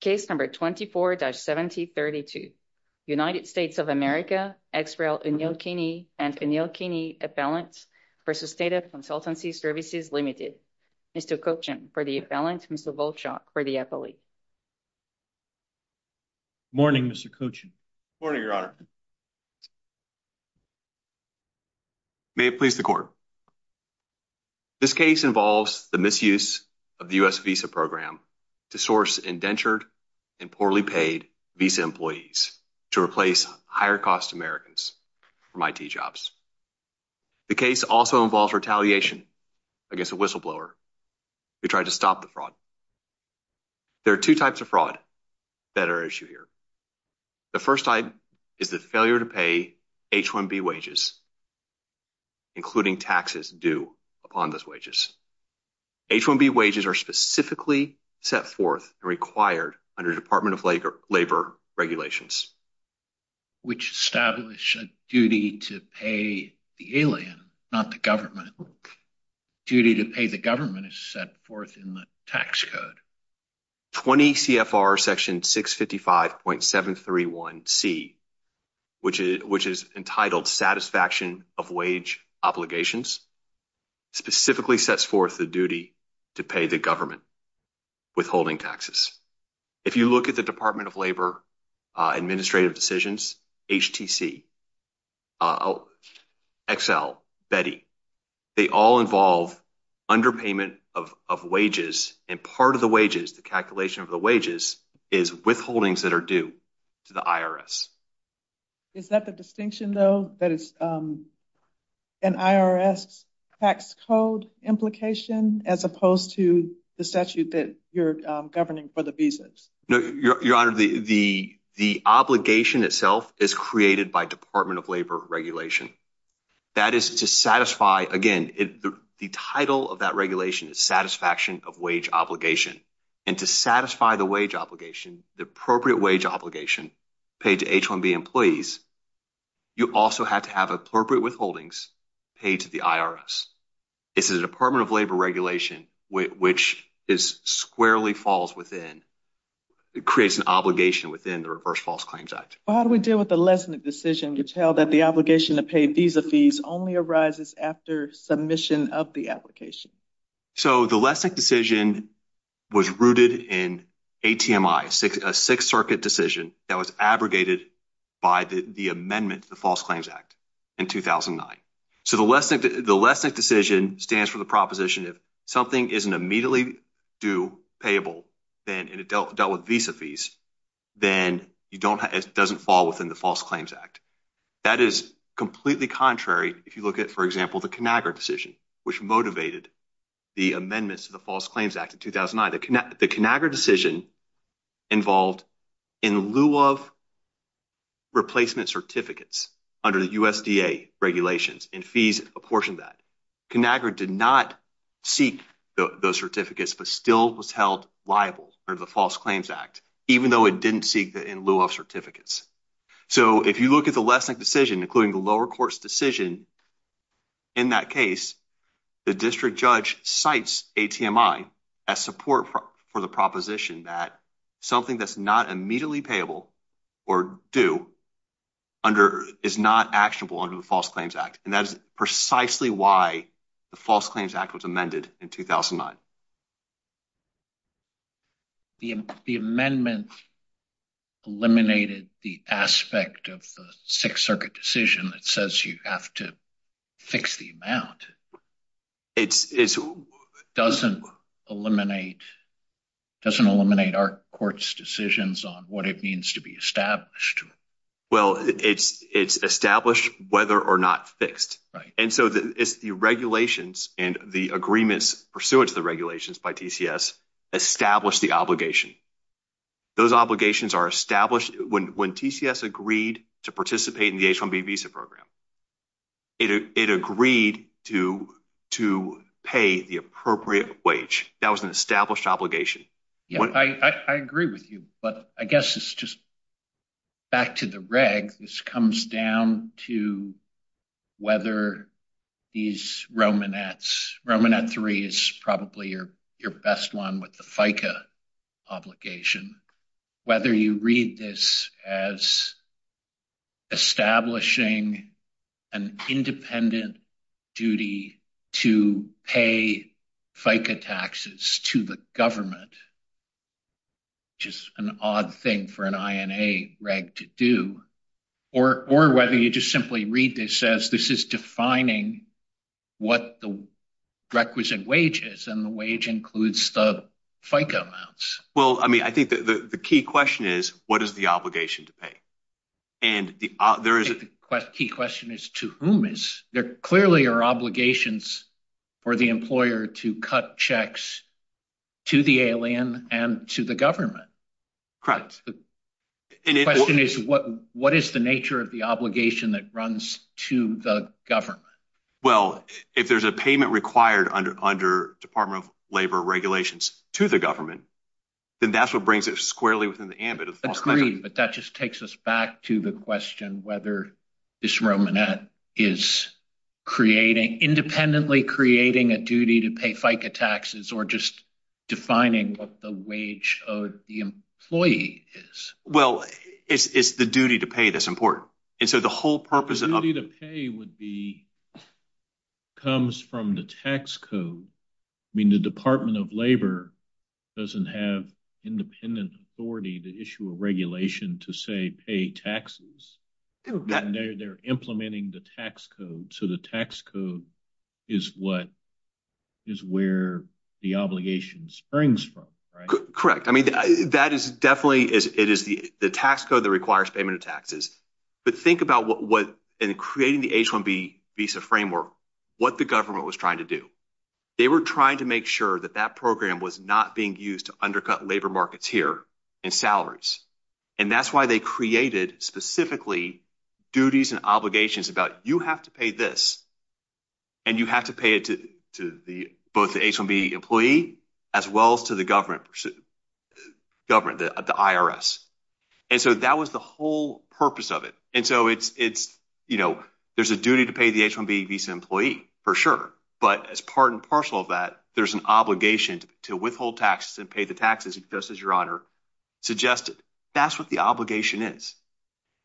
Case number 24-7032. United States of America, Ex-Rail O'Neill-Kinney and O'Neill-Kinney Appellants v. Tata Consultancy Services, LTD. Mr. Kochen for the appellant, Mr. Volchok for the affiliate. Morning, Mr. Kochen. Morning, Your Honor. May it please the Court. This case involves the misuse of the U.S. visa program to source indentured and poorly paid visa employees to replace higher-cost Americans from IT jobs. The case also involves retaliation against a whistleblower who tried to stop the fraud. There are two types of fraud that are at issue here. The first type is the failure to pay H-1B required under Department of Labor regulations. Which establish a duty to pay the alien, not the government. Duty to pay the government is set forth in the tax code. 20 C.F.R. Section 655.731c, which is entitled Satisfaction of Wage Obligations, specifically sets forth the duty to pay the government withholding taxes. If you look at the Department of Labor administrative decisions, HTC, Excel, Betty, they all involve underpayment of wages. And part of the wages, the calculation of the wages, is withholdings that are due to the IRS. Is that the distinction though? That it's an IRS tax code implication as opposed to the statute that you're governing for the visas? No, Your Honor, the obligation itself is created by Department of Labor regulation. That is to satisfy, again, the title of that regulation is Satisfaction of Wage Obligation. And to satisfy the wage obligation, the appropriate wage obligation paid to H-1B employees, you also have to have appropriate withholdings paid to the IRS. It's the Department of Labor regulation, which is squarely falls within, creates an obligation within the Reverse False Claims Act. How do we deal with the Lessnick decision? You tell that the obligation to pay visa fees only arises after submission of the application. So the Lessnick decision was rooted in A-T-M-I, a Sixth Circuit decision that was abrogated by the amendment to the False Claims Act in 2009. So the Lessnick decision stands for the proposition if something isn't immediately due, payable, and it dealt with visa fees, then it doesn't fall within the False Claims Act. That is completely contrary if you look at, for example, the Conagra decision, which motivated the amendments to the False Claims Act in 2009. The Conagra decision involved in lieu of replacement certificates under the USDA regulations, and fees apportioned that. Conagra did not seek those certificates, but still was held liable under the False Claims Act, even though it didn't seek that in lieu of certificates. So if you look at the Lessnick decision, including the lower court's decision in that case, the district judge cites A-T-M-I as support for the proposition that something that's not immediately payable or due is not actionable under the False Claims Act, and that is precisely why the False Claims Act was amended in 2009. The amendment eliminated the aspect of the Sixth Circuit decision that says you have to fix the amount. It doesn't eliminate our court's decisions on what it means to be established. Well, it's established whether or not fixed. And so the regulations and the agreements pursuant to the regulations by TCS establish the obligation. Those obligations are established when TCS agreed to participate in the H-1B visa program. It agreed to pay the appropriate wage. That was an established obligation. Yeah, I agree with you, but I guess it's just back to the reg. This comes down to whether these Romanettes, Romanette 3 is probably your best one with the FICA obligation, whether you read this as establishing an independent duty to pay FICA taxes to the government, which is an odd thing for an INA reg to do, or whether you just simply read this as this is defining what the requisite wage is, and the wage includes the FICA amounts. Well, I mean, I think that the key question is, what is the obligation to pay? And there is a key question is, to whom? There clearly are obligations for the employer to cut checks to the alien and to the government. Correct. The question is, what is the nature of the obligation that runs to the government? Well, if there's a payment required under Department of Labor regulations to the government, then that's what brings it squarely within the ambit. But that just takes us back to the question whether this Romanette is creating, independently creating a duty to pay FICA taxes or just defining what the wage of the employee is. Well, it's the duty to pay that's important. And so the whole purpose of the duty to pay would be comes from the tax code. I mean, the Department of Labor doesn't have independent authority to regulation to say pay taxes. They're implementing the tax code. So the tax code is where the obligation springs from. Correct. I mean, that is definitely is it is the tax code that requires payment of taxes. But think about what in creating the H-1B visa framework, what the government was trying to do. They were trying to make sure that that program was not being used to undercut labor markets here and salaries. And that's why they created specifically duties and obligations about you have to pay this and you have to pay it to the both the H-1B employee as well as to the government, the IRS. And so that was the whole purpose of it. And so it's, you know, there's a duty to pay the H-1B visa employee for sure. But as part and parcel of that, there's an obligation to withhold taxes and pay the taxes just as your honor suggested. That's what the obligation is.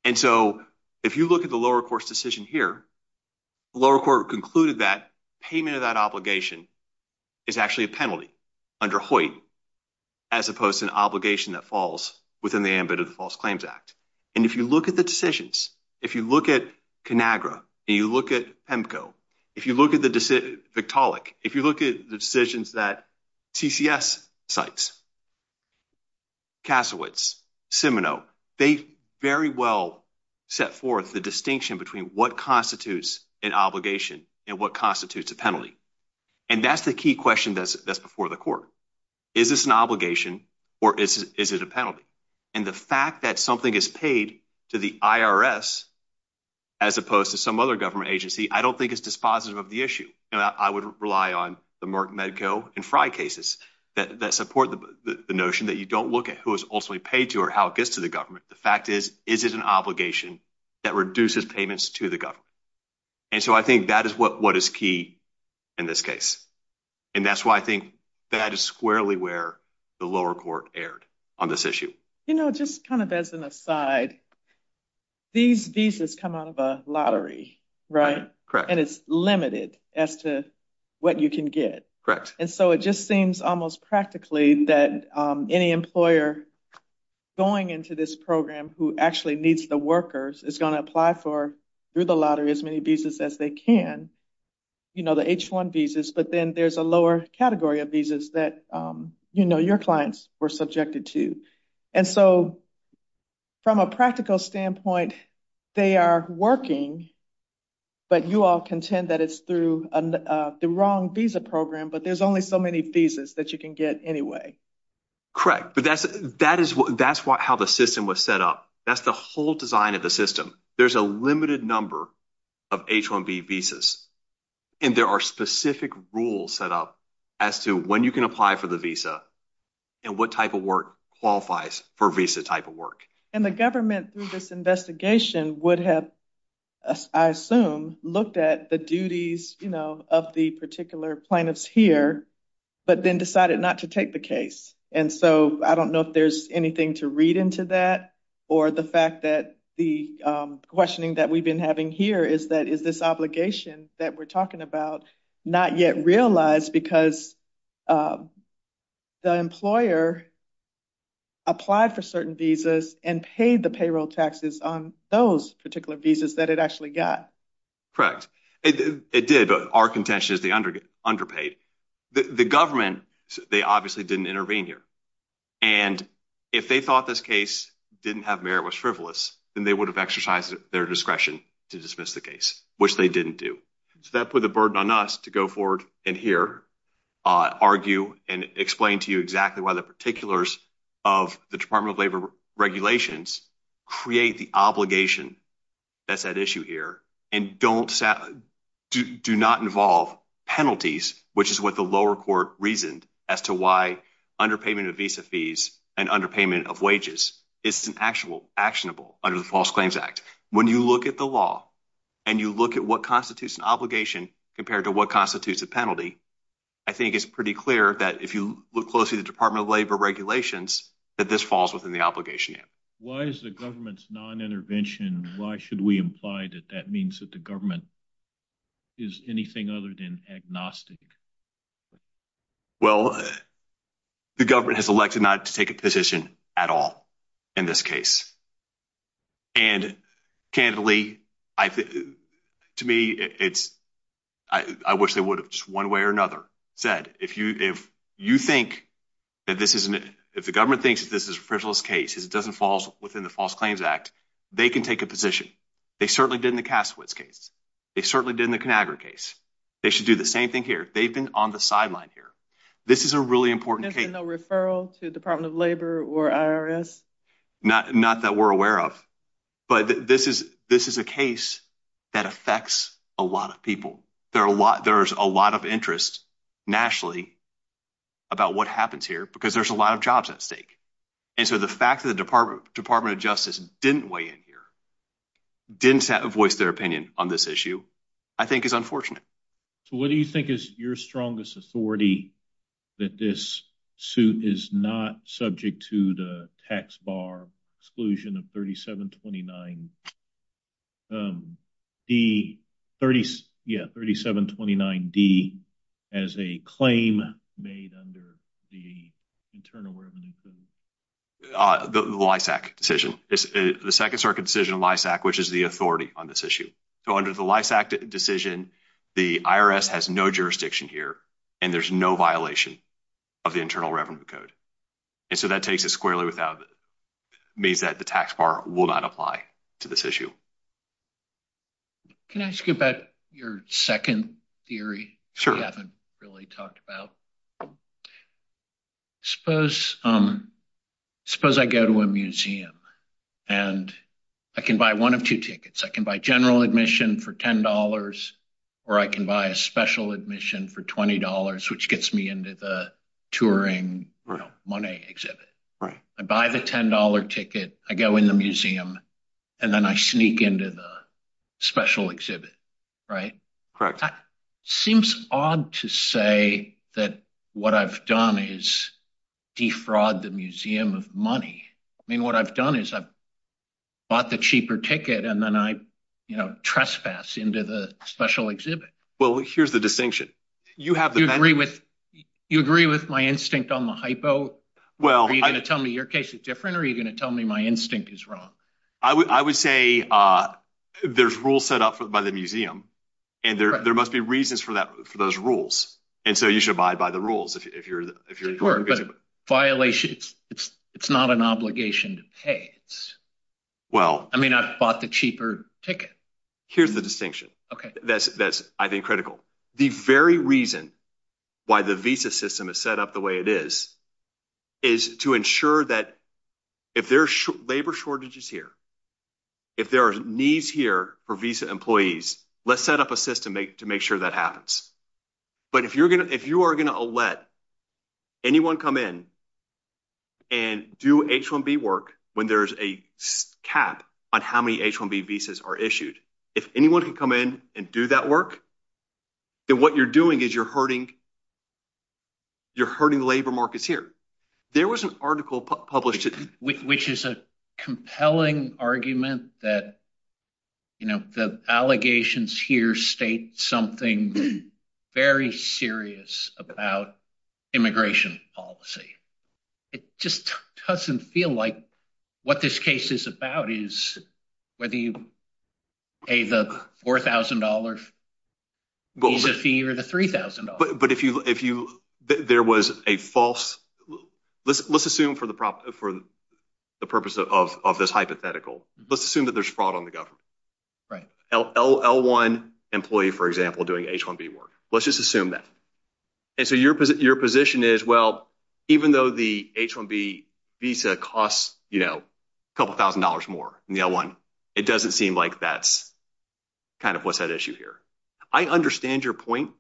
And so if you look at the lower court's decision here, the lower court concluded that payment of that obligation is actually a penalty under Hoyt as opposed to an obligation that falls within the ambit of the False Claims Act. And if you look at the decisions, if you look at Conagra and you look at PEMCO, if you look at the decision, Victaulic, if you look at the decisions that TCS cites, Kasowitz, Simino, they very well set forth the distinction between what constitutes an obligation and what constitutes a penalty. And that's the key question that's before the court. Is this an obligation or is it a penalty? And the fact that something is paid to the IRS as opposed to some other government agency, I don't think it's dispositive of the issue. I would rely on the Merck, Medco and Frye cases that support the notion that you don't look at who is ultimately paid to or how it gets to the government. The fact is, is it an obligation that reduces payments to the government? And so I think that is what is key in this case. And that's why I think that is squarely where the lower court erred on this issue. You know, just kind of as an aside, these visas come out of a lottery, right? Correct. And it's limited as to what you can get. Correct. And so it just seems almost practically that any employer going into this program who actually needs the workers is going to apply for, through the lottery, as many visas as they can. You know, the H-1 visas, but then there's a lower category of that, you know, your clients were subjected to. And so from a practical standpoint, they are working, but you all contend that it's through the wrong visa program, but there's only so many visas that you can get anyway. Correct. But that's how the system was set up. That's the whole design of the system. There's a limited number of H-1B visas, and there are specific rules set up as to when you can apply for the visa and what type of work qualifies for visa type of work. And the government through this investigation would have, I assume, looked at the duties, you know, of the particular plaintiffs here, but then decided not to take the case. And so I don't know if there's anything to read into that, or the fact that the questioning that we've been having here is that is this obligation that we're talking about not yet realized because the employer applied for certain visas and paid the payroll taxes on those particular visas that it actually got. Correct. It did, but our contention is they underpaid. The government, they obviously didn't intervene here. And if they thought this case didn't have merit, was frivolous, then they would have exercised their discretion to dismiss the case, which they didn't do. So that put the burden on us to go forward and hear, argue, and explain to you exactly why the particulars of the Department of Labor regulations create the obligation that's at issue here and do not involve penalties, which is what the lower court reasoned to why underpayment of visa fees and underpayment of wages isn't actionable under the False Claims Act. When you look at the law and you look at what constitutes an obligation compared to what constitutes a penalty, I think it's pretty clear that if you look closely at the Department of Labor regulations, that this falls within the obligation. Why is the government's non-intervention, why should we imply that that means that the government is anything other than agnostic? Well, the government has elected not to take a position at all in this case. And, candidly, to me, it's, I wish they would have just one way or another said, if you think that this isn't, if the government thinks that this is a frivolous case, it doesn't fall within the False Claims Act, they can take a position. They certainly did in the Cassowitz case. They certainly did in the on the sideline here. This is a really important case. There's been no referral to the Department of Labor or IRS? Not that we're aware of, but this is a case that affects a lot of people. There are a lot, there's a lot of interest nationally about what happens here because there's a lot of jobs at stake. And so the fact that the Department of Justice didn't weigh in here, didn't voice their opinion on this issue, I think is unfortunate. What do you think is your strongest authority that this suit is not subject to the tax bar exclusion of 3729 D, yeah, 3729 D, as a claim made under the Internal Revenue Code? The LISAC decision. The Second Circuit decision of LISAC, which is the authority on this issue. So under the LISAC decision, the IRS has no jurisdiction here and there's no violation of the Internal Revenue Code. And so that takes it squarely without, means that the tax bar will not apply to this issue. Can I ask you about your second theory? Sure. I haven't really talked about. I suppose I go to a museum and I can buy one of two tickets. I can buy general admission for $10, or I can buy a special admission for $20, which gets me into the touring, you know, money exhibit. Right. I buy the $10 ticket, I go in the museum, and then I sneak into the what I've done is defraud the museum of money. I mean, what I've done is I've bought the cheaper ticket and then I, you know, trespass into the special exhibit. Well, here's the distinction. You agree with my instinct on the hypo? Well, are you going to tell me your case is different? Are you going to tell me my instinct is wrong? I would say there's rules set up by the museum, and there must be reasons for that, for those rules. And so you should abide by the rules if you're in court. But violations, it's not an obligation to pay. Well, I mean, I've bought the cheaper ticket. Here's the distinction. Okay. That's, I think, critical. The very reason why the visa system is set up the way it is, is to ensure that if there's labor shortages here, if there are needs here for visa employees, let's set up a system to make sure that happens. But if you are going to let anyone come in and do H-1B work when there's a cap on how many H-1B visas are issued, if anyone can come in and do that work, then what you're doing is you're hurting labor markets here. There was an article published- Which is a compelling argument that the allegations here state something very serious about immigration policy. It just doesn't feel like what this case is about is whether you pay the $4,000 visa fee or the $3,000. But if there was a false... Let's assume for the purpose of this hypothetical, let's assume that there's fraud on the government. L-1 employee, for example, doing H-1B work. Let's just assume that. And so your position is, well, even though the H-1B visa costs a couple of thousand dollars more than the L-1, it doesn't seem like that's kind of what's at issue here. I understand your point,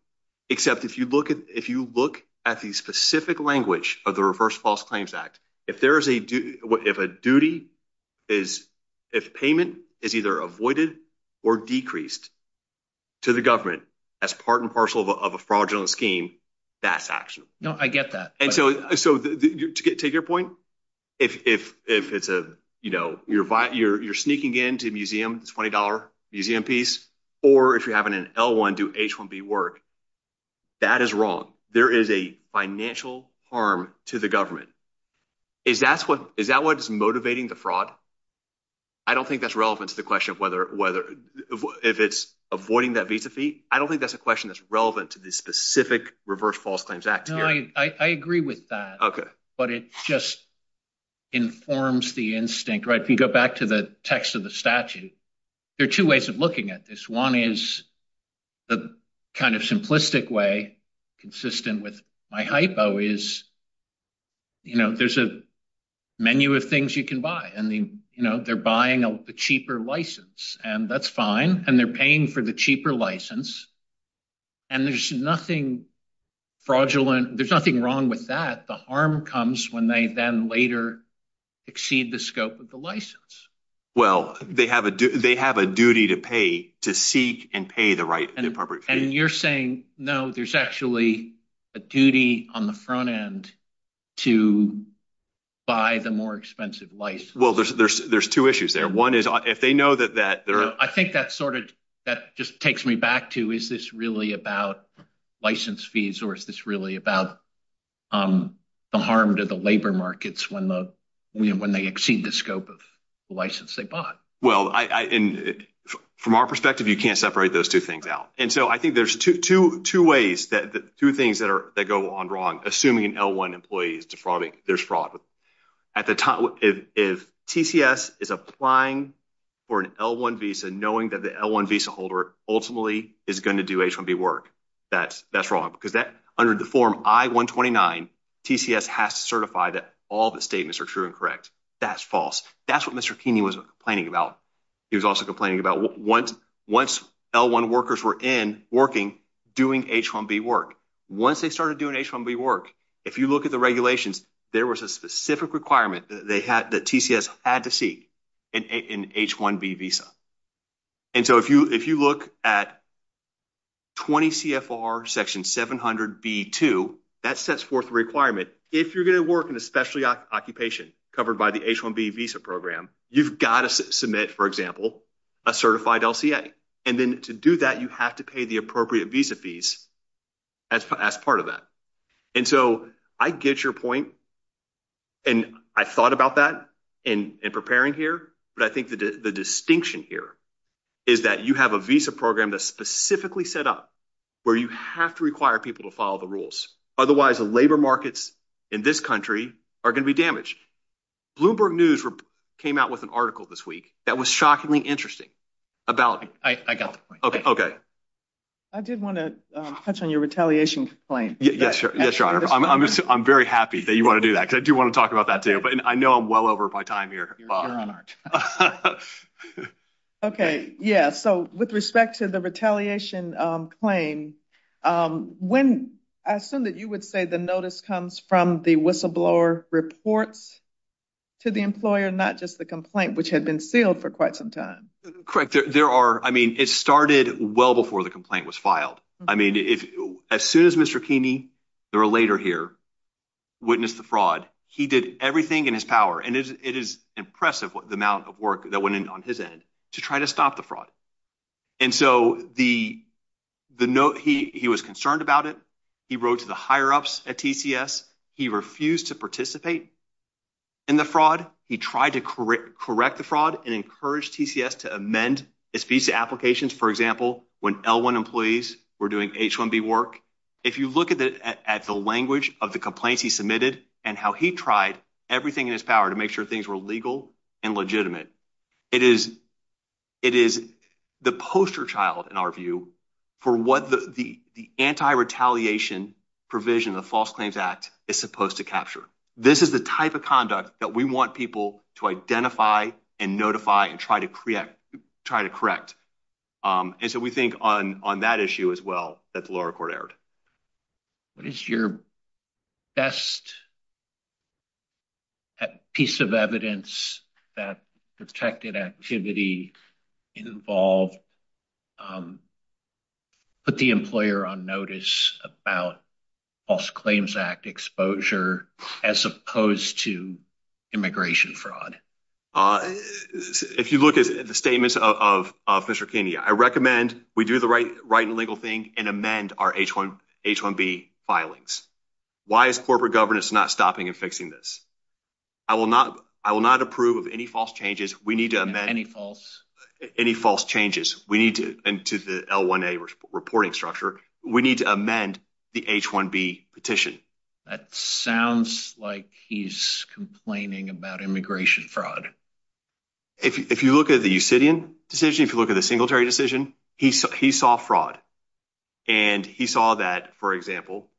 except if you look at the specific language of the Reverse False Claims Act, if payment is either avoided or decreased to the government as part and parcel of a fraudulent scheme, that's actionable. No, I get that. And so to take your point, if you're sneaking into a $20 museum piece, or if you're having an L-1 do H-1B work, that is wrong. There is a financial harm to the government. Is that what's motivating the fraud? I don't think that's relevant to the question of whether... If it's avoiding that visa fee, I don't think that's a question that's relevant to the specific Reverse False Claims Act. No, I agree with that, but it just informs the instinct. If you go back to the text of the statute, there are two ways of looking at this. One is the kind of simplistic way, consistent with my hypo, is there's a menu of things you can buy, and they're buying a cheaper license, and that's fine, and they're paying for the cheaper license, and there's nothing fraudulent. There's nothing wrong with that. The harm comes when they then later exceed the scope of the license. Well, they have a duty to pay, to seek and pay the appropriate fee. And you're saying, no, there's actually a duty on the front end to buy the more expensive license. Well, there's two issues there. One is, if they know that... I think that just takes me back to, is this really about license fees, or is this really about the harm to the labor markets when they exceed the scope of the license they bought? Well, from our perspective, you can't separate those two things out. And so I think there's two ways, two things that go on wrong, assuming an L1 employee is defrauding, there's fraud. If TCS is applying for an L1 visa, knowing that the L1 visa holder ultimately is going to do H-1B work, that's wrong, because under the form I-129, TCS has to certify that all the statements are true and correct. That's false. That's what Mr. Keeney was complaining about. He was also complaining about once L1 workers were in, working, doing H-1B work. Once they started doing H-1B work, if you look at the regulations, there was a specific requirement that TCS had to see in H-1B visa. And so if you look at 20 CFR section 700B2, that sets forth the requirement. If you're going to work in a specialty occupation covered by the H-1B visa program, you've got to submit, for example, a certified LCA. And then to do that, you have to pay the appropriate visa fees as part of that. And so I get your point. And I thought about that in preparing here. But I think the distinction here is that you have a visa program that's specifically set up where you have to require people to follow the rules. Otherwise, the labor markets in this country are going to be damaged. Bloomberg News came out with an article this week that was shockingly interesting about- I got the point. Okay. Okay. I did want to touch on your retaliation claim. Yes, Your Honor. I'm very happy that you want to do that because I do want to talk about that too. But I know I'm well over my time here. Okay. Yeah. So with respect to the retaliation claim, I assume that you would say the notice comes from the whistleblower reports to the employer, not just the complaint, which had been sealed for quite some time. Correct. There are. I mean, it started well before the complaint was filed. I mean, as soon as Mr. Keeney, the relator here, witnessed the fraud, he did everything in his power. And it is impressive the amount of work that went in on his end to try to stop the fraud. And so he was concerned about it. He wrote to the higher-ups at TCS. He refused to participate in the fraud. He tried to correct the fraud and encouraged TCS to amend applications. For example, when L-1 employees were doing H-1B work, if you look at the language of the complaints he submitted and how he tried everything in his power to make sure things were legal and legitimate, it is the poster child, in our view, for what the anti-retaliation provision of the False Claims Act is supposed to capture. This is the type of conduct that we want people to identify and notify and try to correct. And so we think on that issue as well that the lower court erred. What is your best piece of evidence that protected activity involved in the fraud? Put the employer on notice about False Claims Act exposure as opposed to immigration fraud. If you look at the statements of Mr. Kenney, I recommend we do the right and legal thing and amend our H-1B filings. Why is corporate governance not stopping and fixing this? I will not approve of any false changes. We need to amend any false changes. And to the L-1A reporting structure, we need to amend the H-1B petition. That sounds like he's complaining about immigration fraud. If you look at the Usidian decision, if you look at the Singletary decision, he saw fraud. And he saw that, for example,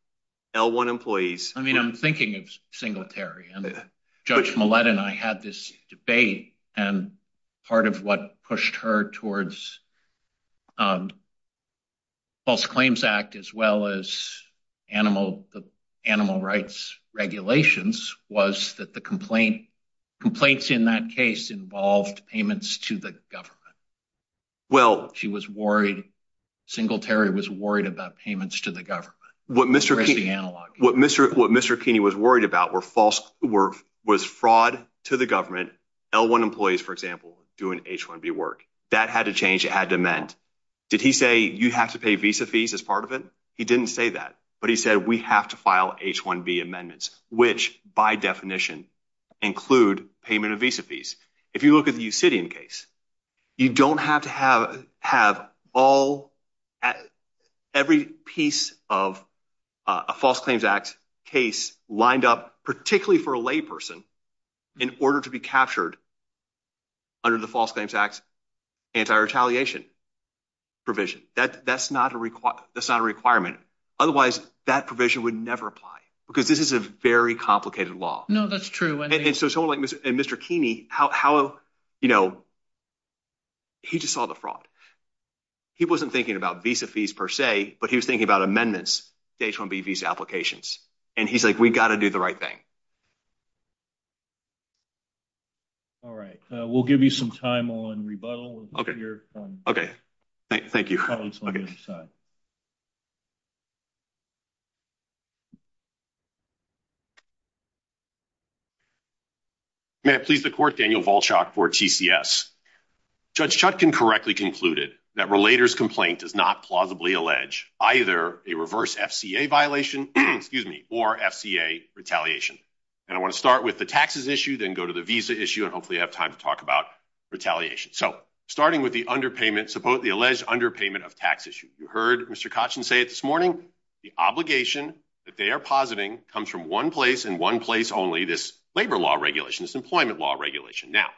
L-1 employees... I mean, I'm thinking of Singletary. Judge Millett and I had this debate. And part of what pushed her towards False Claims Act as well as animal rights regulations was that the complaints in that case involved payments to the government. She was worried. Singletary was worried about payments to the government. What Mr. Kenney was worried about was fraud to the government. L-1 employees, for example, doing H-1B work. That had to change. It had to amend. Did he say you have to pay visa fees as part of it? He didn't say that. But he said we have to file H-1B amendments, which by definition include payment of visa fees. If you look at the Usidian case, you don't have to have every piece of a False Claims Act case lined up, particularly for a layperson, in order to be captured under the False Claims Act's anti-retaliation provision. That's not a requirement. Otherwise, that provision would never apply because this is a very complicated law. No, that's true. And Mr. Kenney, he just saw the fraud. He wasn't thinking about visa fees per se, but he was thinking about amendments to H-1B visa applications. And he's like, we've got to do the right thing. All right. We'll give you some time on rebuttal. Okay. Thank you. May it please the court, Daniel Volchak for TCS. Judge Chutkin correctly concluded that relator's complaint does not plausibly allege either a reverse FCA violation, excuse me, or FCA retaliation. And I want to start with the taxes issue, then go to the visa issue, and hopefully I have time to talk about retaliation. So starting with the underpayment, the alleged underpayment of tax issue. You heard Mr. Kotchin say it this morning. The obligation that they are positing comes from one place, this labor law regulation, this employment law regulation. Now,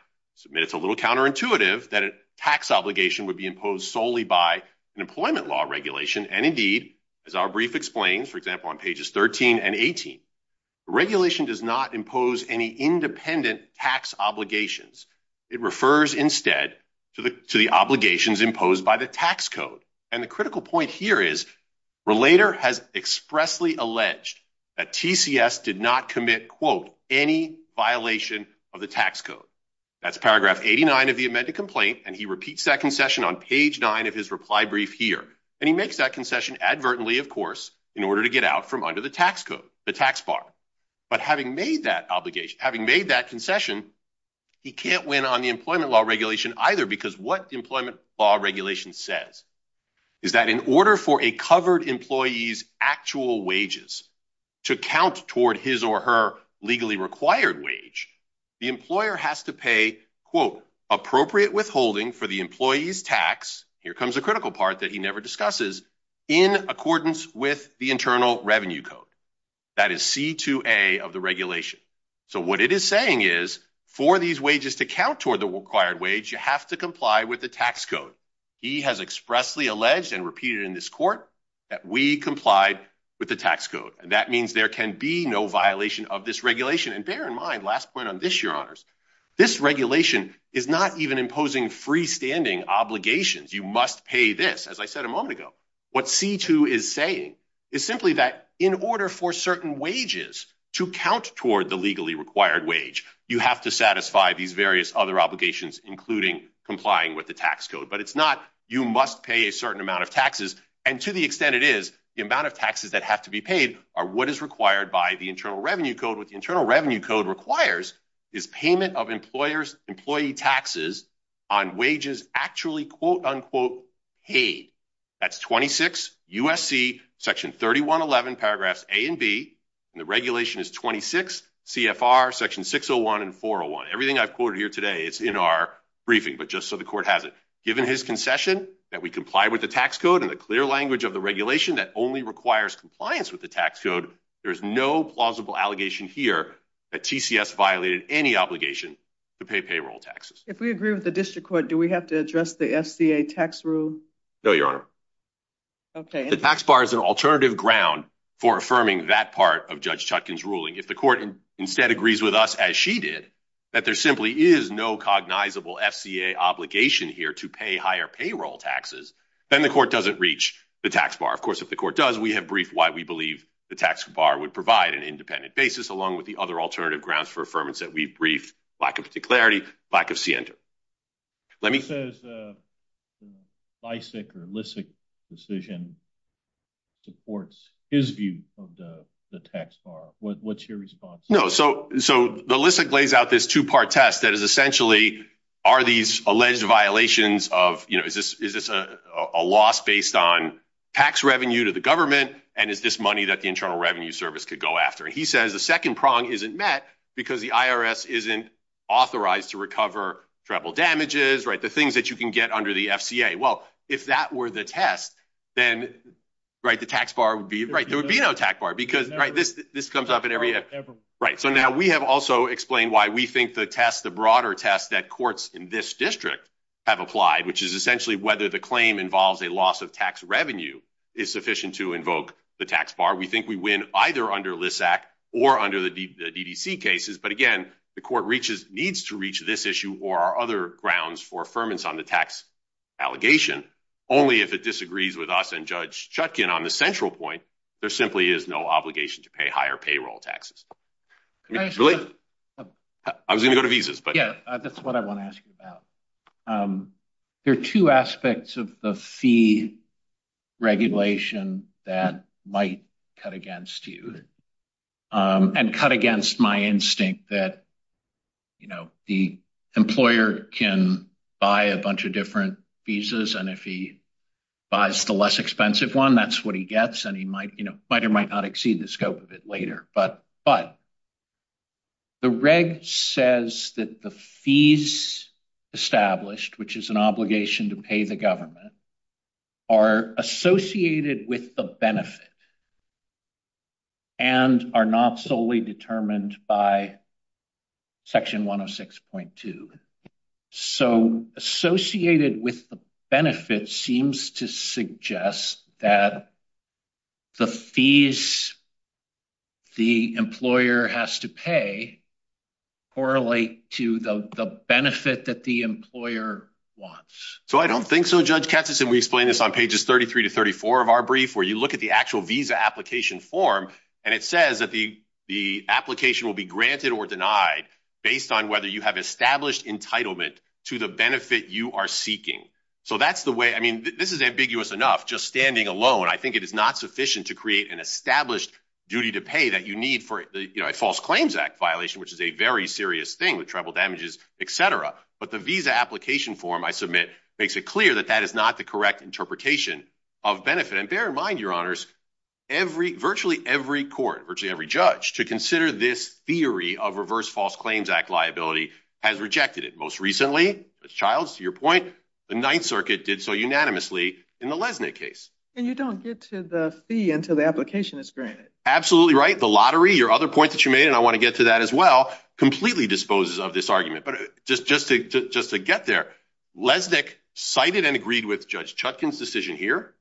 it's a little counterintuitive that a tax obligation would be imposed solely by an employment law regulation. And indeed, as our brief explains, for example, on pages 13 and 18, the regulation does not impose any independent tax obligations. It refers instead to the obligations imposed by the tax code. And the critical point here is relator has expressly alleged that TCS did not commit, quote, any violation of the tax code. That's paragraph 89 of the amended complaint. And he repeats that concession on page nine of his reply brief here. And he makes that concession advertently, of course, in order to get out from under the tax code, the tax bar. But having made that obligation, having made that concession, he can't win on the employment law regulation either, because what the employment law regulation says is that in order for a covered employee's actual wages to count toward his or her legally required wage, the employer has to pay, quote, appropriate withholding for the employee's tax. Here comes the critical part that he never discusses, in accordance with the internal revenue code. That is C2A of the regulation. So what it is saying is for these wages to count toward the required wage, you have to comply with the tax code. He has expressly alleged and repeated in this court that we complied with the tax code. And that means there can be no violation of this regulation. And bear in mind, last point on this, your honors, this regulation is not even imposing freestanding obligations. You must pay this, as I said a moment ago. What C2 is saying is simply that in order for certain wages to count toward the legally required wage, you have to satisfy these various other obligations, including complying with the tax code. But it's not, you must pay a certain amount of taxes. And to the extent it is, the amount of taxes that have to be paid are what is required by the internal revenue code. What the internal revenue code requires is payment of employer's employee taxes on wages actually, quote, unquote, paid. That's 26 USC section 3111 paragraphs A and B. And the regulation is 26 CFR section 601 and 401. Everything I've quoted here today is in our briefing, but just so the court has it. Given his concession that we comply with the tax code and the clear language of the regulation that only requires compliance with the tax code, there is no plausible allegation here that TCS violated any obligation to pay payroll taxes. If we agree with the district court, do we have to address the SCA tax rule? No, Your Honor. Okay. The tax bar is an alternative ground for affirming that part of Judge Chutkan's ruling. If the court instead agrees with us, as she did, that there simply is no cognizable FCA obligation here to pay higher payroll taxes, then the court doesn't reach the tax bar. Of course, if the court does, we have briefed why we believe the tax bar would provide an independent basis along with the other alternative grounds for affirmance that we've briefed, lack of particularity, lack of scienter. Let me say Bicek or Lissick decision supports his view of the tax bar. What's your response? No. So the Lissick lays out this two-part test that is essentially, are these alleged violations of, you know, is this a loss based on tax revenue to the government? And is this money that the Internal Revenue Service could go after? He says the second prong isn't met because the IRS isn't authorized to recover treble damages, right? The things that you can get under the FCA. Well, if that were the test, then, right? The tax bar would be, right? There would be no tax bar because, right? This comes up in every, right? So now we have also explained why we think the test, the broader test that courts in this district have applied, which is essentially whether the claim involves a loss of tax revenue is sufficient to invoke the tax bar. We think we win either under Lissack or under the DDC cases. But again, the court reaches, needs to reach this issue or other grounds for affirmance on the tax allegation. Only if it disagrees with us and Judge Chutkin on the central point, there simply is no obligation to pay higher payroll taxes. I was going to go to visas. But yeah, that's what I want to ask you about. Um, there are two aspects of the fee regulation that might cut against you, um, and cut against my instinct that, you know, the employer can buy a bunch of different visas. And if he buys the less expensive one, that's what he gets. And he might, you know, might or might not exceed the scope of it later. But the reg says that the fees established, which is an obligation to pay the government, are associated with the benefit and are not solely determined by section 106.2. So associated with the benefit seems to suggest that the fees the employer has to pay correlate to the benefit that the employer wants. So I don't think so. Judge Katz has explained this on pages 33 to 34 of our brief, where you look at the actual visa application form. And it says that the, the application will be granted or denied based on whether you have established entitlement to the benefit you are seeking. So that's the way, I mean, this is ambiguous enough, just standing alone. I think it is not sufficient to create an established duty to pay that you need for the, you know, a false claims act violation, which is a very serious thing with tribal damages, et cetera. But the visa application form I submit makes it clear that that is not the correct interpretation of benefit. And bear in mind, your honors, every, virtually every court, virtually every judge to consider this theory of reverse false claims act liability has rejected it. Most recently, Ms. Childs, to your point, the Ninth Circuit did so unanimously in the Lesnick case. And you don't get to the fee until the application is granted. Absolutely right. The lottery, your other point that you made, and I want to get to that as well, completely disposes of this argument. But just, just to, just to get there, Lesnick cited and agreed with Judge Chutkin's decision here,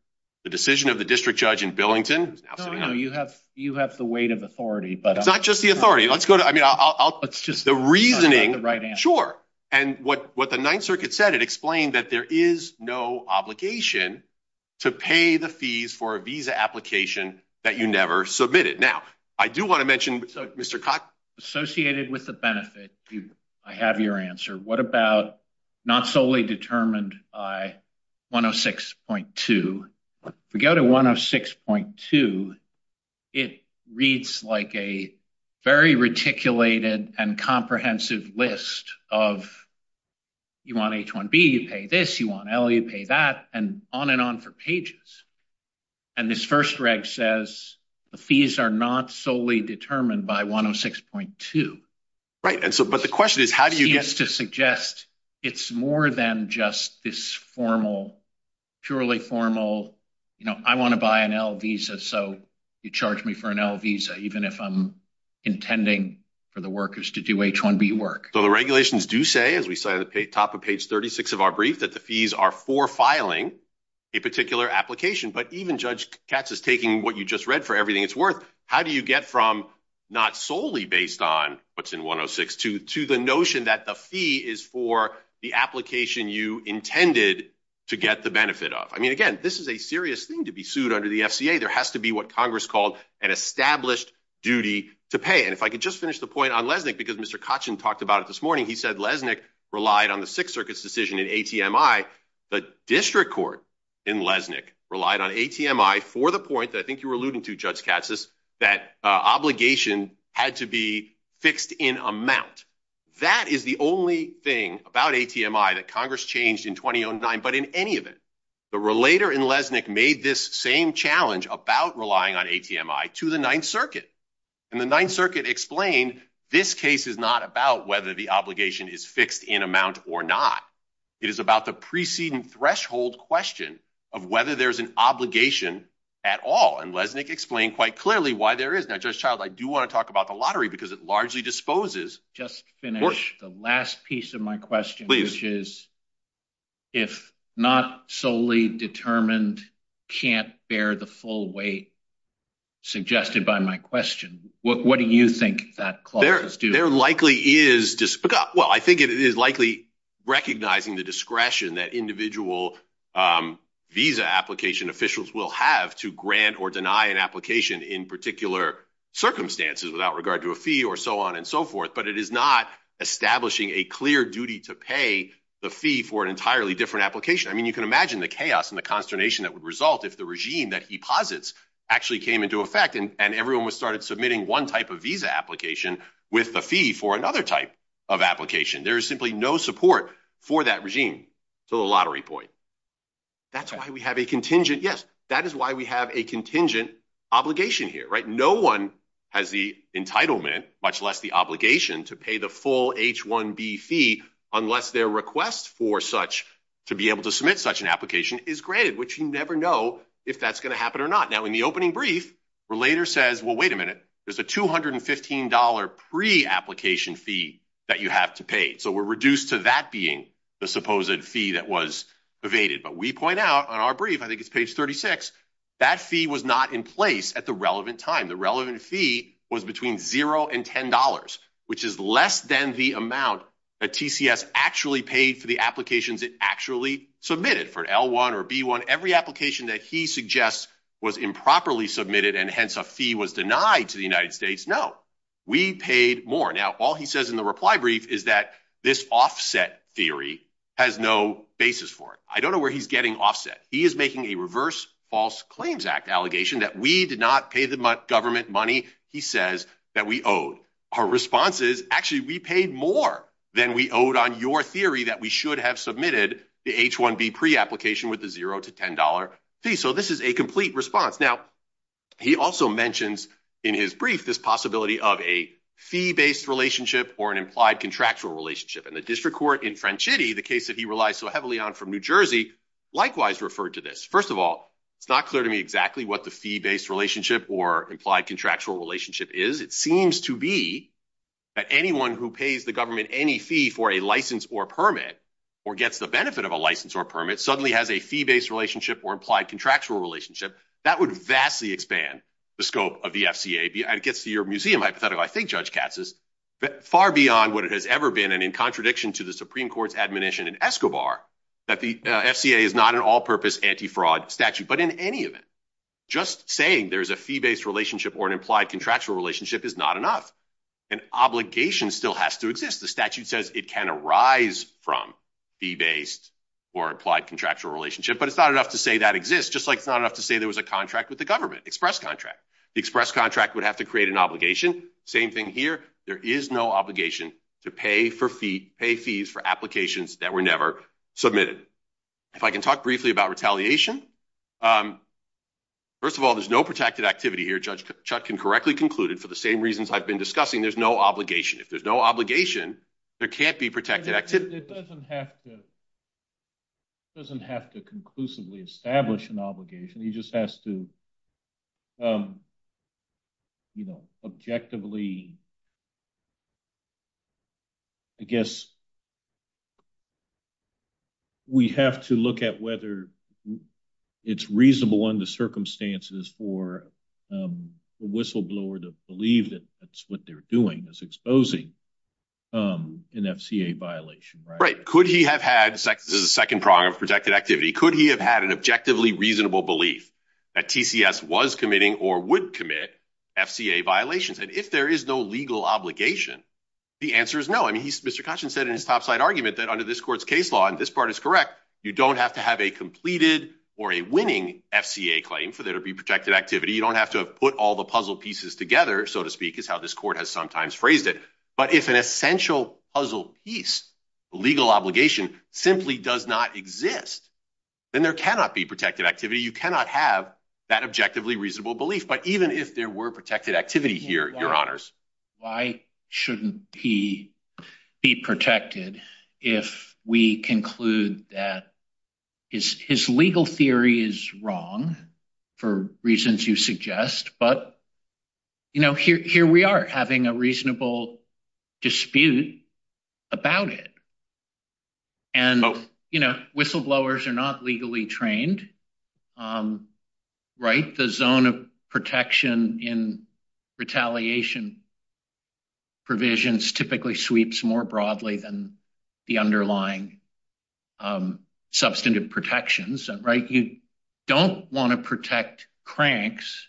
the decision of the district judge in Billington. No, no, you have, you have the weight of authority. It's not just the authority. Let's go to, I mean, I'll, I'll, the reasoning, sure. And what, what the Ninth Circuit said, it explained that there is no obligation to pay the fees for a visa application that you never submitted. Now, I do want to mention, Mr. Cox. Associated with the benefit, I have your answer. What about not solely determined by 106.2? If we go to 106.2, it reads like a very reticulated and comprehensive list of, you want H-1B, you pay this, you want L, you pay that, and on and on for pages. And this first reg says the fees are not solely determined by 106.2. Right. And so, but the question is, how do you get- You know, I want to buy an L visa, so you charge me for an L visa, even if I'm intending for the workers to do H-1B work. So the regulations do say, as we say at the top of page 36 of our brief, that the fees are for filing a particular application. But even Judge Katz is taking what you just read for everything it's worth. How do you get from not solely based on what's in 106.2 to the notion that the fee is for the application you intended to get the benefit of? I mean, again, this is a serious thing to be sued under the FCA. There has to be what Congress called an established duty to pay. And if I could just finish the point on Lesnick, because Mr. Kotchin talked about it this morning. He said Lesnick relied on the Sixth Circuit's decision in ATMI. The district court in Lesnick relied on ATMI for the point that I think you were alluding to, Judge Katz, that obligation had to be fixed in amount. That is the only thing about ATMI that Congress changed in 2009, but in any event, the relator in Lesnick made this same challenge about relying on ATMI to the Ninth Circuit. And the Ninth Circuit explained this case is not about whether the obligation is fixed in amount or not. It is about the preceding threshold question of whether there's an obligation at all. And Lesnick explained quite clearly why there is. Now, Judge Child, I do want to talk about the lottery because it largely disposes. Just finish the last piece of my question, which is, if not solely determined, can't bear the full weight suggested by my question, what do you think that clause is doing? There likely is, well, I think it is likely recognizing the discretion that individual visa application officials will have to grant or deny an application in particular circumstances without regard to a fee or so on and so forth. But it is not establishing a clear duty to pay the fee for an entirely different application. I mean, you can imagine the chaos and the consternation that would result if the regime that he posits actually came into effect and everyone started submitting one type of visa application with the fee for another type of application. There is simply no support for that regime to the lottery point. That's why we have a contingent. Yes, that is why we have a contingent obligation here, right? No one has the entitlement, much less the obligation, to pay the full H-1B fee unless their request for such to be able to submit such an application is granted, which you never know if that's going to happen or not. Now, in the opening brief, Relator says, well, wait a minute. There's a $215 pre-application fee that you have to pay. So we're reduced to that being the supposed fee that was evaded. But we point out on our brief, I think it's page 36, that fee was not in place at the time. The relevant fee was between $0 and $10, which is less than the amount that TCS actually paid for the applications it actually submitted for L-1 or B-1. Every application that he suggests was improperly submitted and hence a fee was denied to the United States. No, we paid more. Now, all he says in the reply brief is that this offset theory has no basis for it. I don't know where he's getting offset. He is making a reverse False Claims Act allegation that we did not pay the government money he says that we owed. Our response is, actually, we paid more than we owed on your theory that we should have submitted the H-1B pre-application with the $0 to $10 fee. So this is a complete response. Now, he also mentions in his brief this possibility of a fee-based relationship or an implied contractual relationship. In the district court in French City, the case that he relies so heavily on from New Jersey, likewise referred to this. First of all, it's not clear to me exactly what the fee-based relationship or implied contractual relationship is. It seems to be that anyone who pays the government any fee for a license or permit or gets the benefit of a license or permit suddenly has a fee-based relationship or implied contractual relationship. That would vastly expand the scope of the FCA. It gets to your museum hypothetical, I think, Judge Katz, far beyond what it has ever been in contradiction to the Supreme Court's admonition in Escobar that the FCA is not an all-purpose anti-fraud statute. But in any event, just saying there's a fee-based relationship or an implied contractual relationship is not enough. An obligation still has to exist. The statute says it can arise from fee-based or implied contractual relationship. But it's not enough to say that exists, just like it's not enough to say there was a contract with the government, express contract. The express contract would have to create an obligation. Same thing here. There is no obligation to pay fees for applications that were never submitted. If I can talk briefly about retaliation. First of all, there's no protected activity here. Judge Chutkin correctly concluded, for the same reasons I've been discussing, there's no obligation. If there's no obligation, there can't be protected activity. It doesn't have to conclusively establish an obligation. He just has to, you know, objectively, I guess, we have to look at whether it's reasonable under circumstances for the whistleblower to believe that that's what they're doing is exposing an FCA violation, right? Could he have had, this is the second prong of protected activity, could he have had an objectively reasonable belief that TCS was committing or would commit FCA violations? And if there is no legal obligation, the answer is no. I mean, Mr. Kachin said in his topside argument that under this court's case law, and this part is correct, you don't have to have a completed or a winning FCA claim for there to be protected activity. You don't have to have put all the puzzle pieces together, so to speak, is how this court has sometimes phrased it. But if an essential puzzle piece, legal obligation, simply does not exist, then there cannot be protected activity, you cannot have that objectively reasonable belief. But even if there were protected activity here, your honors. Why shouldn't he be protected if we conclude that his legal theory is wrong for reasons you suggest, but you know, here we are having a reasonable dispute about it. And, you know, whistleblowers are not legally trained, right? The zone of protection in retaliation provisions typically sweeps more broadly than the underlying substantive protections, right? You don't want to protect cranks,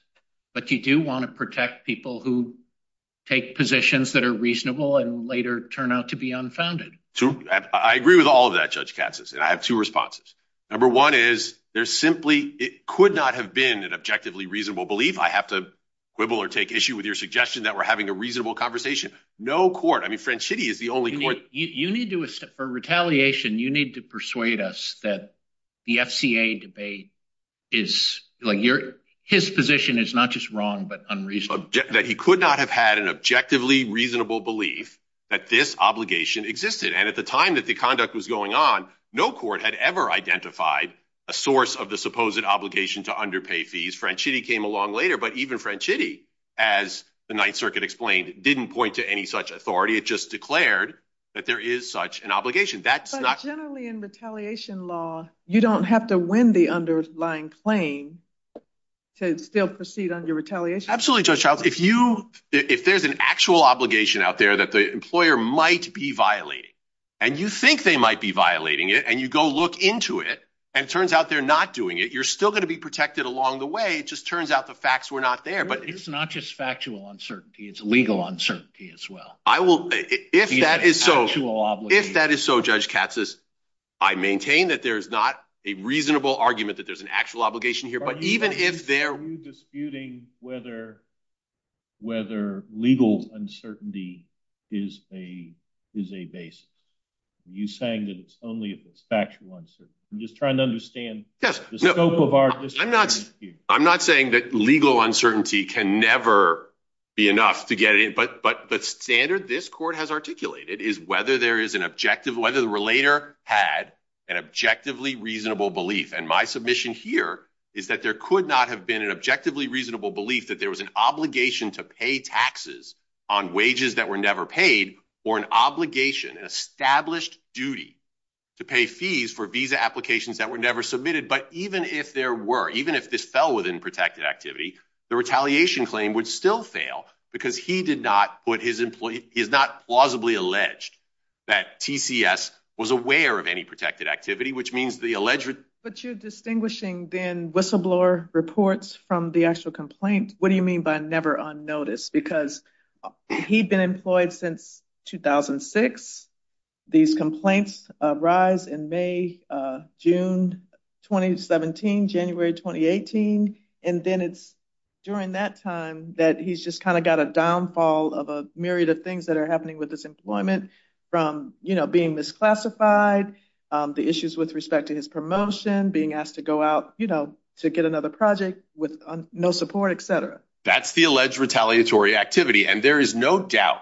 but you do want to protect people who take positions that are reasonable and later turn out to be unfounded. I agree with all of that, Judge Katsas, and I have two responses. Number one is there simply could not have been an objectively reasonable belief. I have to quibble or take issue with your suggestion that we're having a reasonable conversation. No court. I mean, French City is the only court you need to for retaliation. You need to persuade us that the FCA debate is like your his position is not just wrong, but unreasonable that he could not have had an objectively reasonable belief that this obligation existed. And at the time that the conduct was going on, no court had ever identified a source of the supposed obligation to underpay fees. French City came along later, but even French City, as the Ninth Circuit explained, didn't point to any such authority. It just declared that there is such an obligation. That's not generally in retaliation law. You don't have to win the underlying claim to still proceed on your retaliation. Absolutely. If you if there's an actual obligation out there that the employer might be violating and you think they might be violating it and you go look into it and it turns out they're not doing it, you're still going to be protected along the way. It just turns out the facts were not there. But it's not just factual uncertainty. It's legal uncertainty as well. I will if that is so, if that is so, Judge Katsas, I maintain that there is not a reasonable argument that there's an actual obligation here. Even if they're disputing whether whether legal uncertainty is a is a base, you saying that it's only factual uncertainty. I'm just trying to understand the scope of our I'm not I'm not saying that legal uncertainty can never be enough to get it. But but but standard this court has articulated is whether there is an objective, whether the relator had an objectively reasonable belief. And my submission here is that there could not have been an objectively reasonable belief that there was an obligation to pay taxes on wages that were never paid or an obligation and established duty to pay fees for visa applications that were never submitted. But even if there were, even if this fell within protected activity, the retaliation claim would still fail because he did not put his employee is not plausibly alleged that TCS was aware of any protected activity, which means the alleged. But you're distinguishing then whistleblower reports from the actual complaint. What do you mean by never on notice? Because he'd been employed since 2006. These complaints rise in May, June 2017, January 2018. And then it's during that time that he's just kind of got a downfall of a myriad of things that are happening with this employment from, you know, being misclassified the issues with respect to his promotion, being asked to go out, you know, to get another project with no support, etc. That's the alleged retaliatory activity. And there is no doubt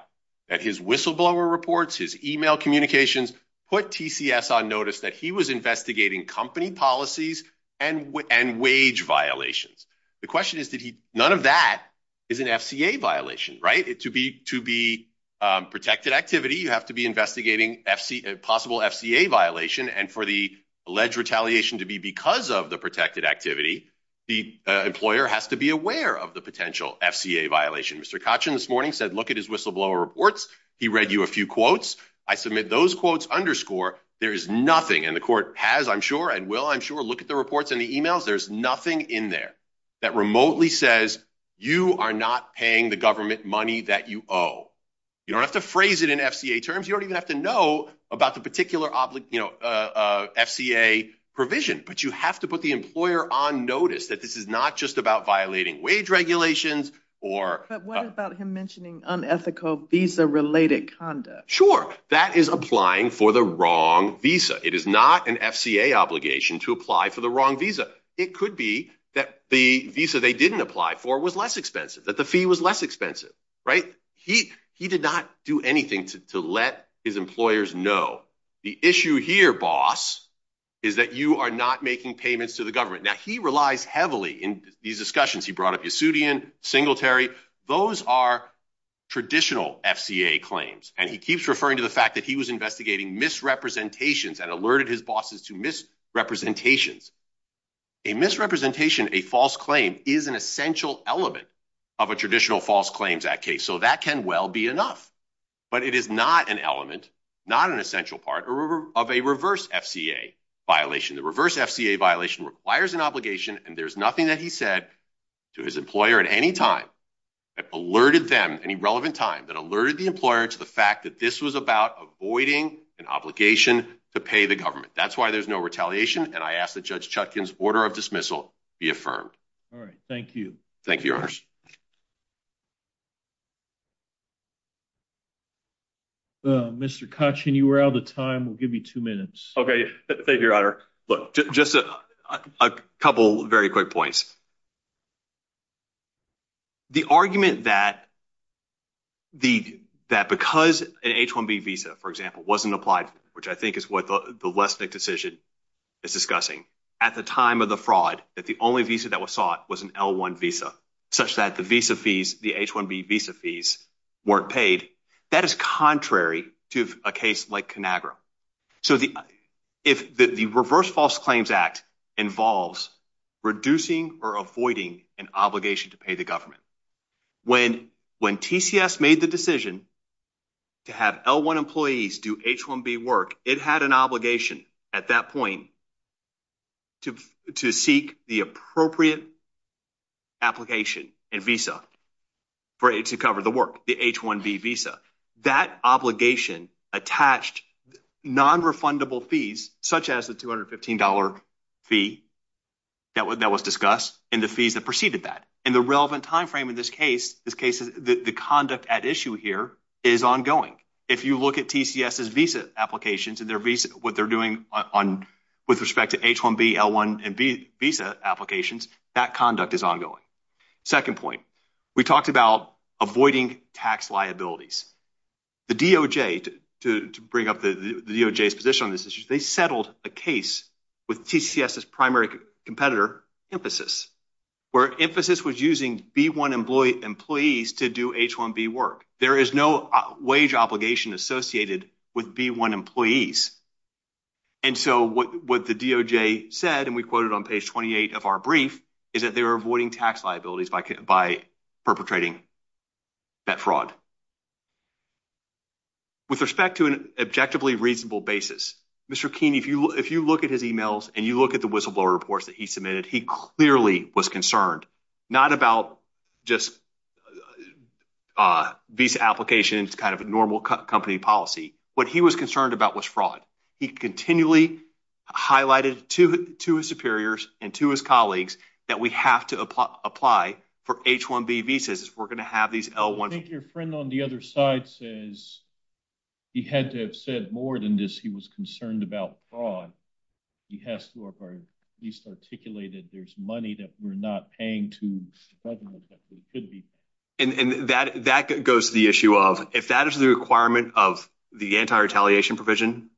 that his whistleblower reports, his email communications put TCS on notice that he was investigating company policies and wage violations. The question is, did he? None of that is an FCA violation, right? It to be to be protected activity. You have to be investigating FCA possible FCA violation. And for the alleged retaliation to be because of the protected activity, the employer has to be aware of the potential FCA violation. Mr. Kachin this morning said, look at his whistleblower reports. He read you a few quotes. I submit those quotes. Underscore. There is nothing in the court has, I'm sure and will, I'm sure. Look at the reports in the emails. There's nothing in there that remotely says you are not paying the government money that you owe. You don't have to phrase it in FCA terms. You don't even have to know about the particular object, you know, FCA provision, but you have to put the employer on notice that this is not just about violating wage regulations or what about him mentioning unethical visa related conduct? Sure. That is applying for the wrong visa. It is not an FCA obligation to apply for the wrong visa. It could be that the visa they didn't apply for was less expensive that the fee was less expensive, right? He did not do anything to let his employers know. The issue here, boss, is that you are not making payments to the government. Now, he relies heavily in these discussions. He brought up Yasudian, Singletary. Those are traditional FCA claims and he keeps referring to the fact that he was investigating misrepresentations and alerted his bosses to misrepresentations. A misrepresentation, a false claim is an essential element of a traditional false claims act case. So that can well be enough, but it is not an element, not an essential part of a reverse FCA violation. The reverse FCA violation requires an obligation and there's nothing that he said to his employer at any time that alerted them any relevant time that alerted the employer to the fact that this was about avoiding an obligation to pay the government. That's why there's no retaliation. And I ask that Judge Chutkin's order of dismissal be affirmed. All right. Thank you. Thank you, Your Honors. Well, Mr. Kachin, you were out of time. We'll give you two minutes. Okay. Thank you, Your Honor. Look, just a couple very quick points. The argument that because an H-1B visa, for example, wasn't applied, which I think is what the Lesnick decision is discussing, at the time of the fraud, that the only visa that was sought was an L-1 visa, such that the visa fees, the H-1B visa fees weren't paid. That is contrary to a case like Conagra. So if the Reverse False Claims Act involves reducing or avoiding an obligation to pay the government, when TCS made the decision to have L-1 employees do H-1B work, it had an obligation at that point to seek the appropriate application and visa to cover the work, the H-1B visa. That obligation attached nonrefundable fees, such as the $215 fee that was discussed and the fees that preceded that. And the relevant time frame in this case, the conduct at issue here, is ongoing. If you look at TCS's visa applications and what they're doing with respect to H-1B, L-1, and visa applications, that conduct is ongoing. Second point, we talked about avoiding tax liabilities. The DOJ, to bring up the DOJ's position on this issue, they settled a case with TCS's primary competitor, Emphasis, where Emphasis was using B-1 employees to do H-1B work. There is no wage obligation associated with B-1 employees. And so what the DOJ said, and we quoted on page 28 of our brief, is that they were avoiding tax liabilities by perpetrating that fraud. With respect to an objectively reasonable basis, Mr. Keene, if you look at his emails and you look at the whistleblower reports that he submitted, he clearly was concerned, not about just visa applications, kind of a normal company policy. What he was concerned about was fraud. He continually highlighted to his superiors and to his colleagues that we have to apply for H-1B visas. We're going to have these L-1s. I think your friend on the other side says he had to have said more than this. He was concerned about fraud. He has to at least articulate that there's money that we're not paying to spread them. And that goes to the issue of, if that is the requirement of the anti-retaliation provision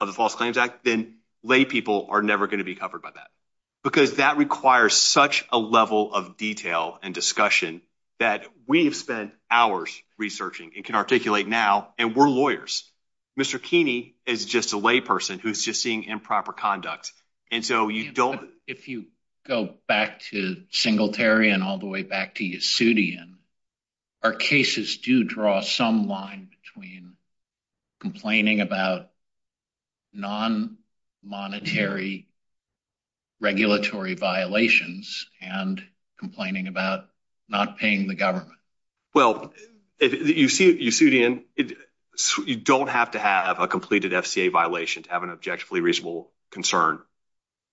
of the False Claims Act, then lay people are never going to be covered by that. Because that requires such a level of detail and discussion that we have spent hours researching and can articulate now, and we're lawyers. Mr. Keene is just a layperson who's just seeing improper conduct. And so you don't... If you go back to Singletary and all the way back to Yasudian, our cases do draw some line between complaining about non-monetary regulatory violations and complaining about not paying the government. Well, Yasudian, you don't have to have a completed FCA violation to have an objectively reasonable concern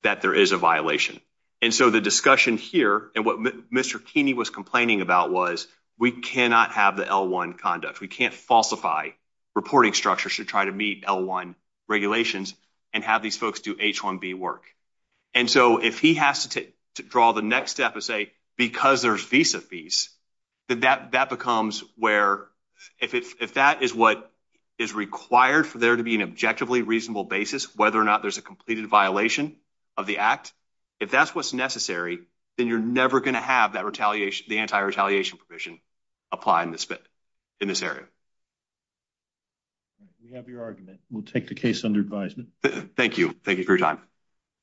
that there is a violation. And so the discussion here, and what Mr. Keene was complaining about was, we cannot have the L-1 conduct. We can't falsify reporting structures to try to meet L-1 regulations and have these folks do H-1B work. And so if he has to draw the next step and say, because there's visa fees, that becomes where... If that is what is required for there to be an objectively reasonable basis, whether or not there's a completed violation of the act, if that's what's necessary, then you're never going to have that retaliation, the anti-retaliation provision apply in this area. We have your argument. We'll take the case under advisement. Thank you. Thank you for your time.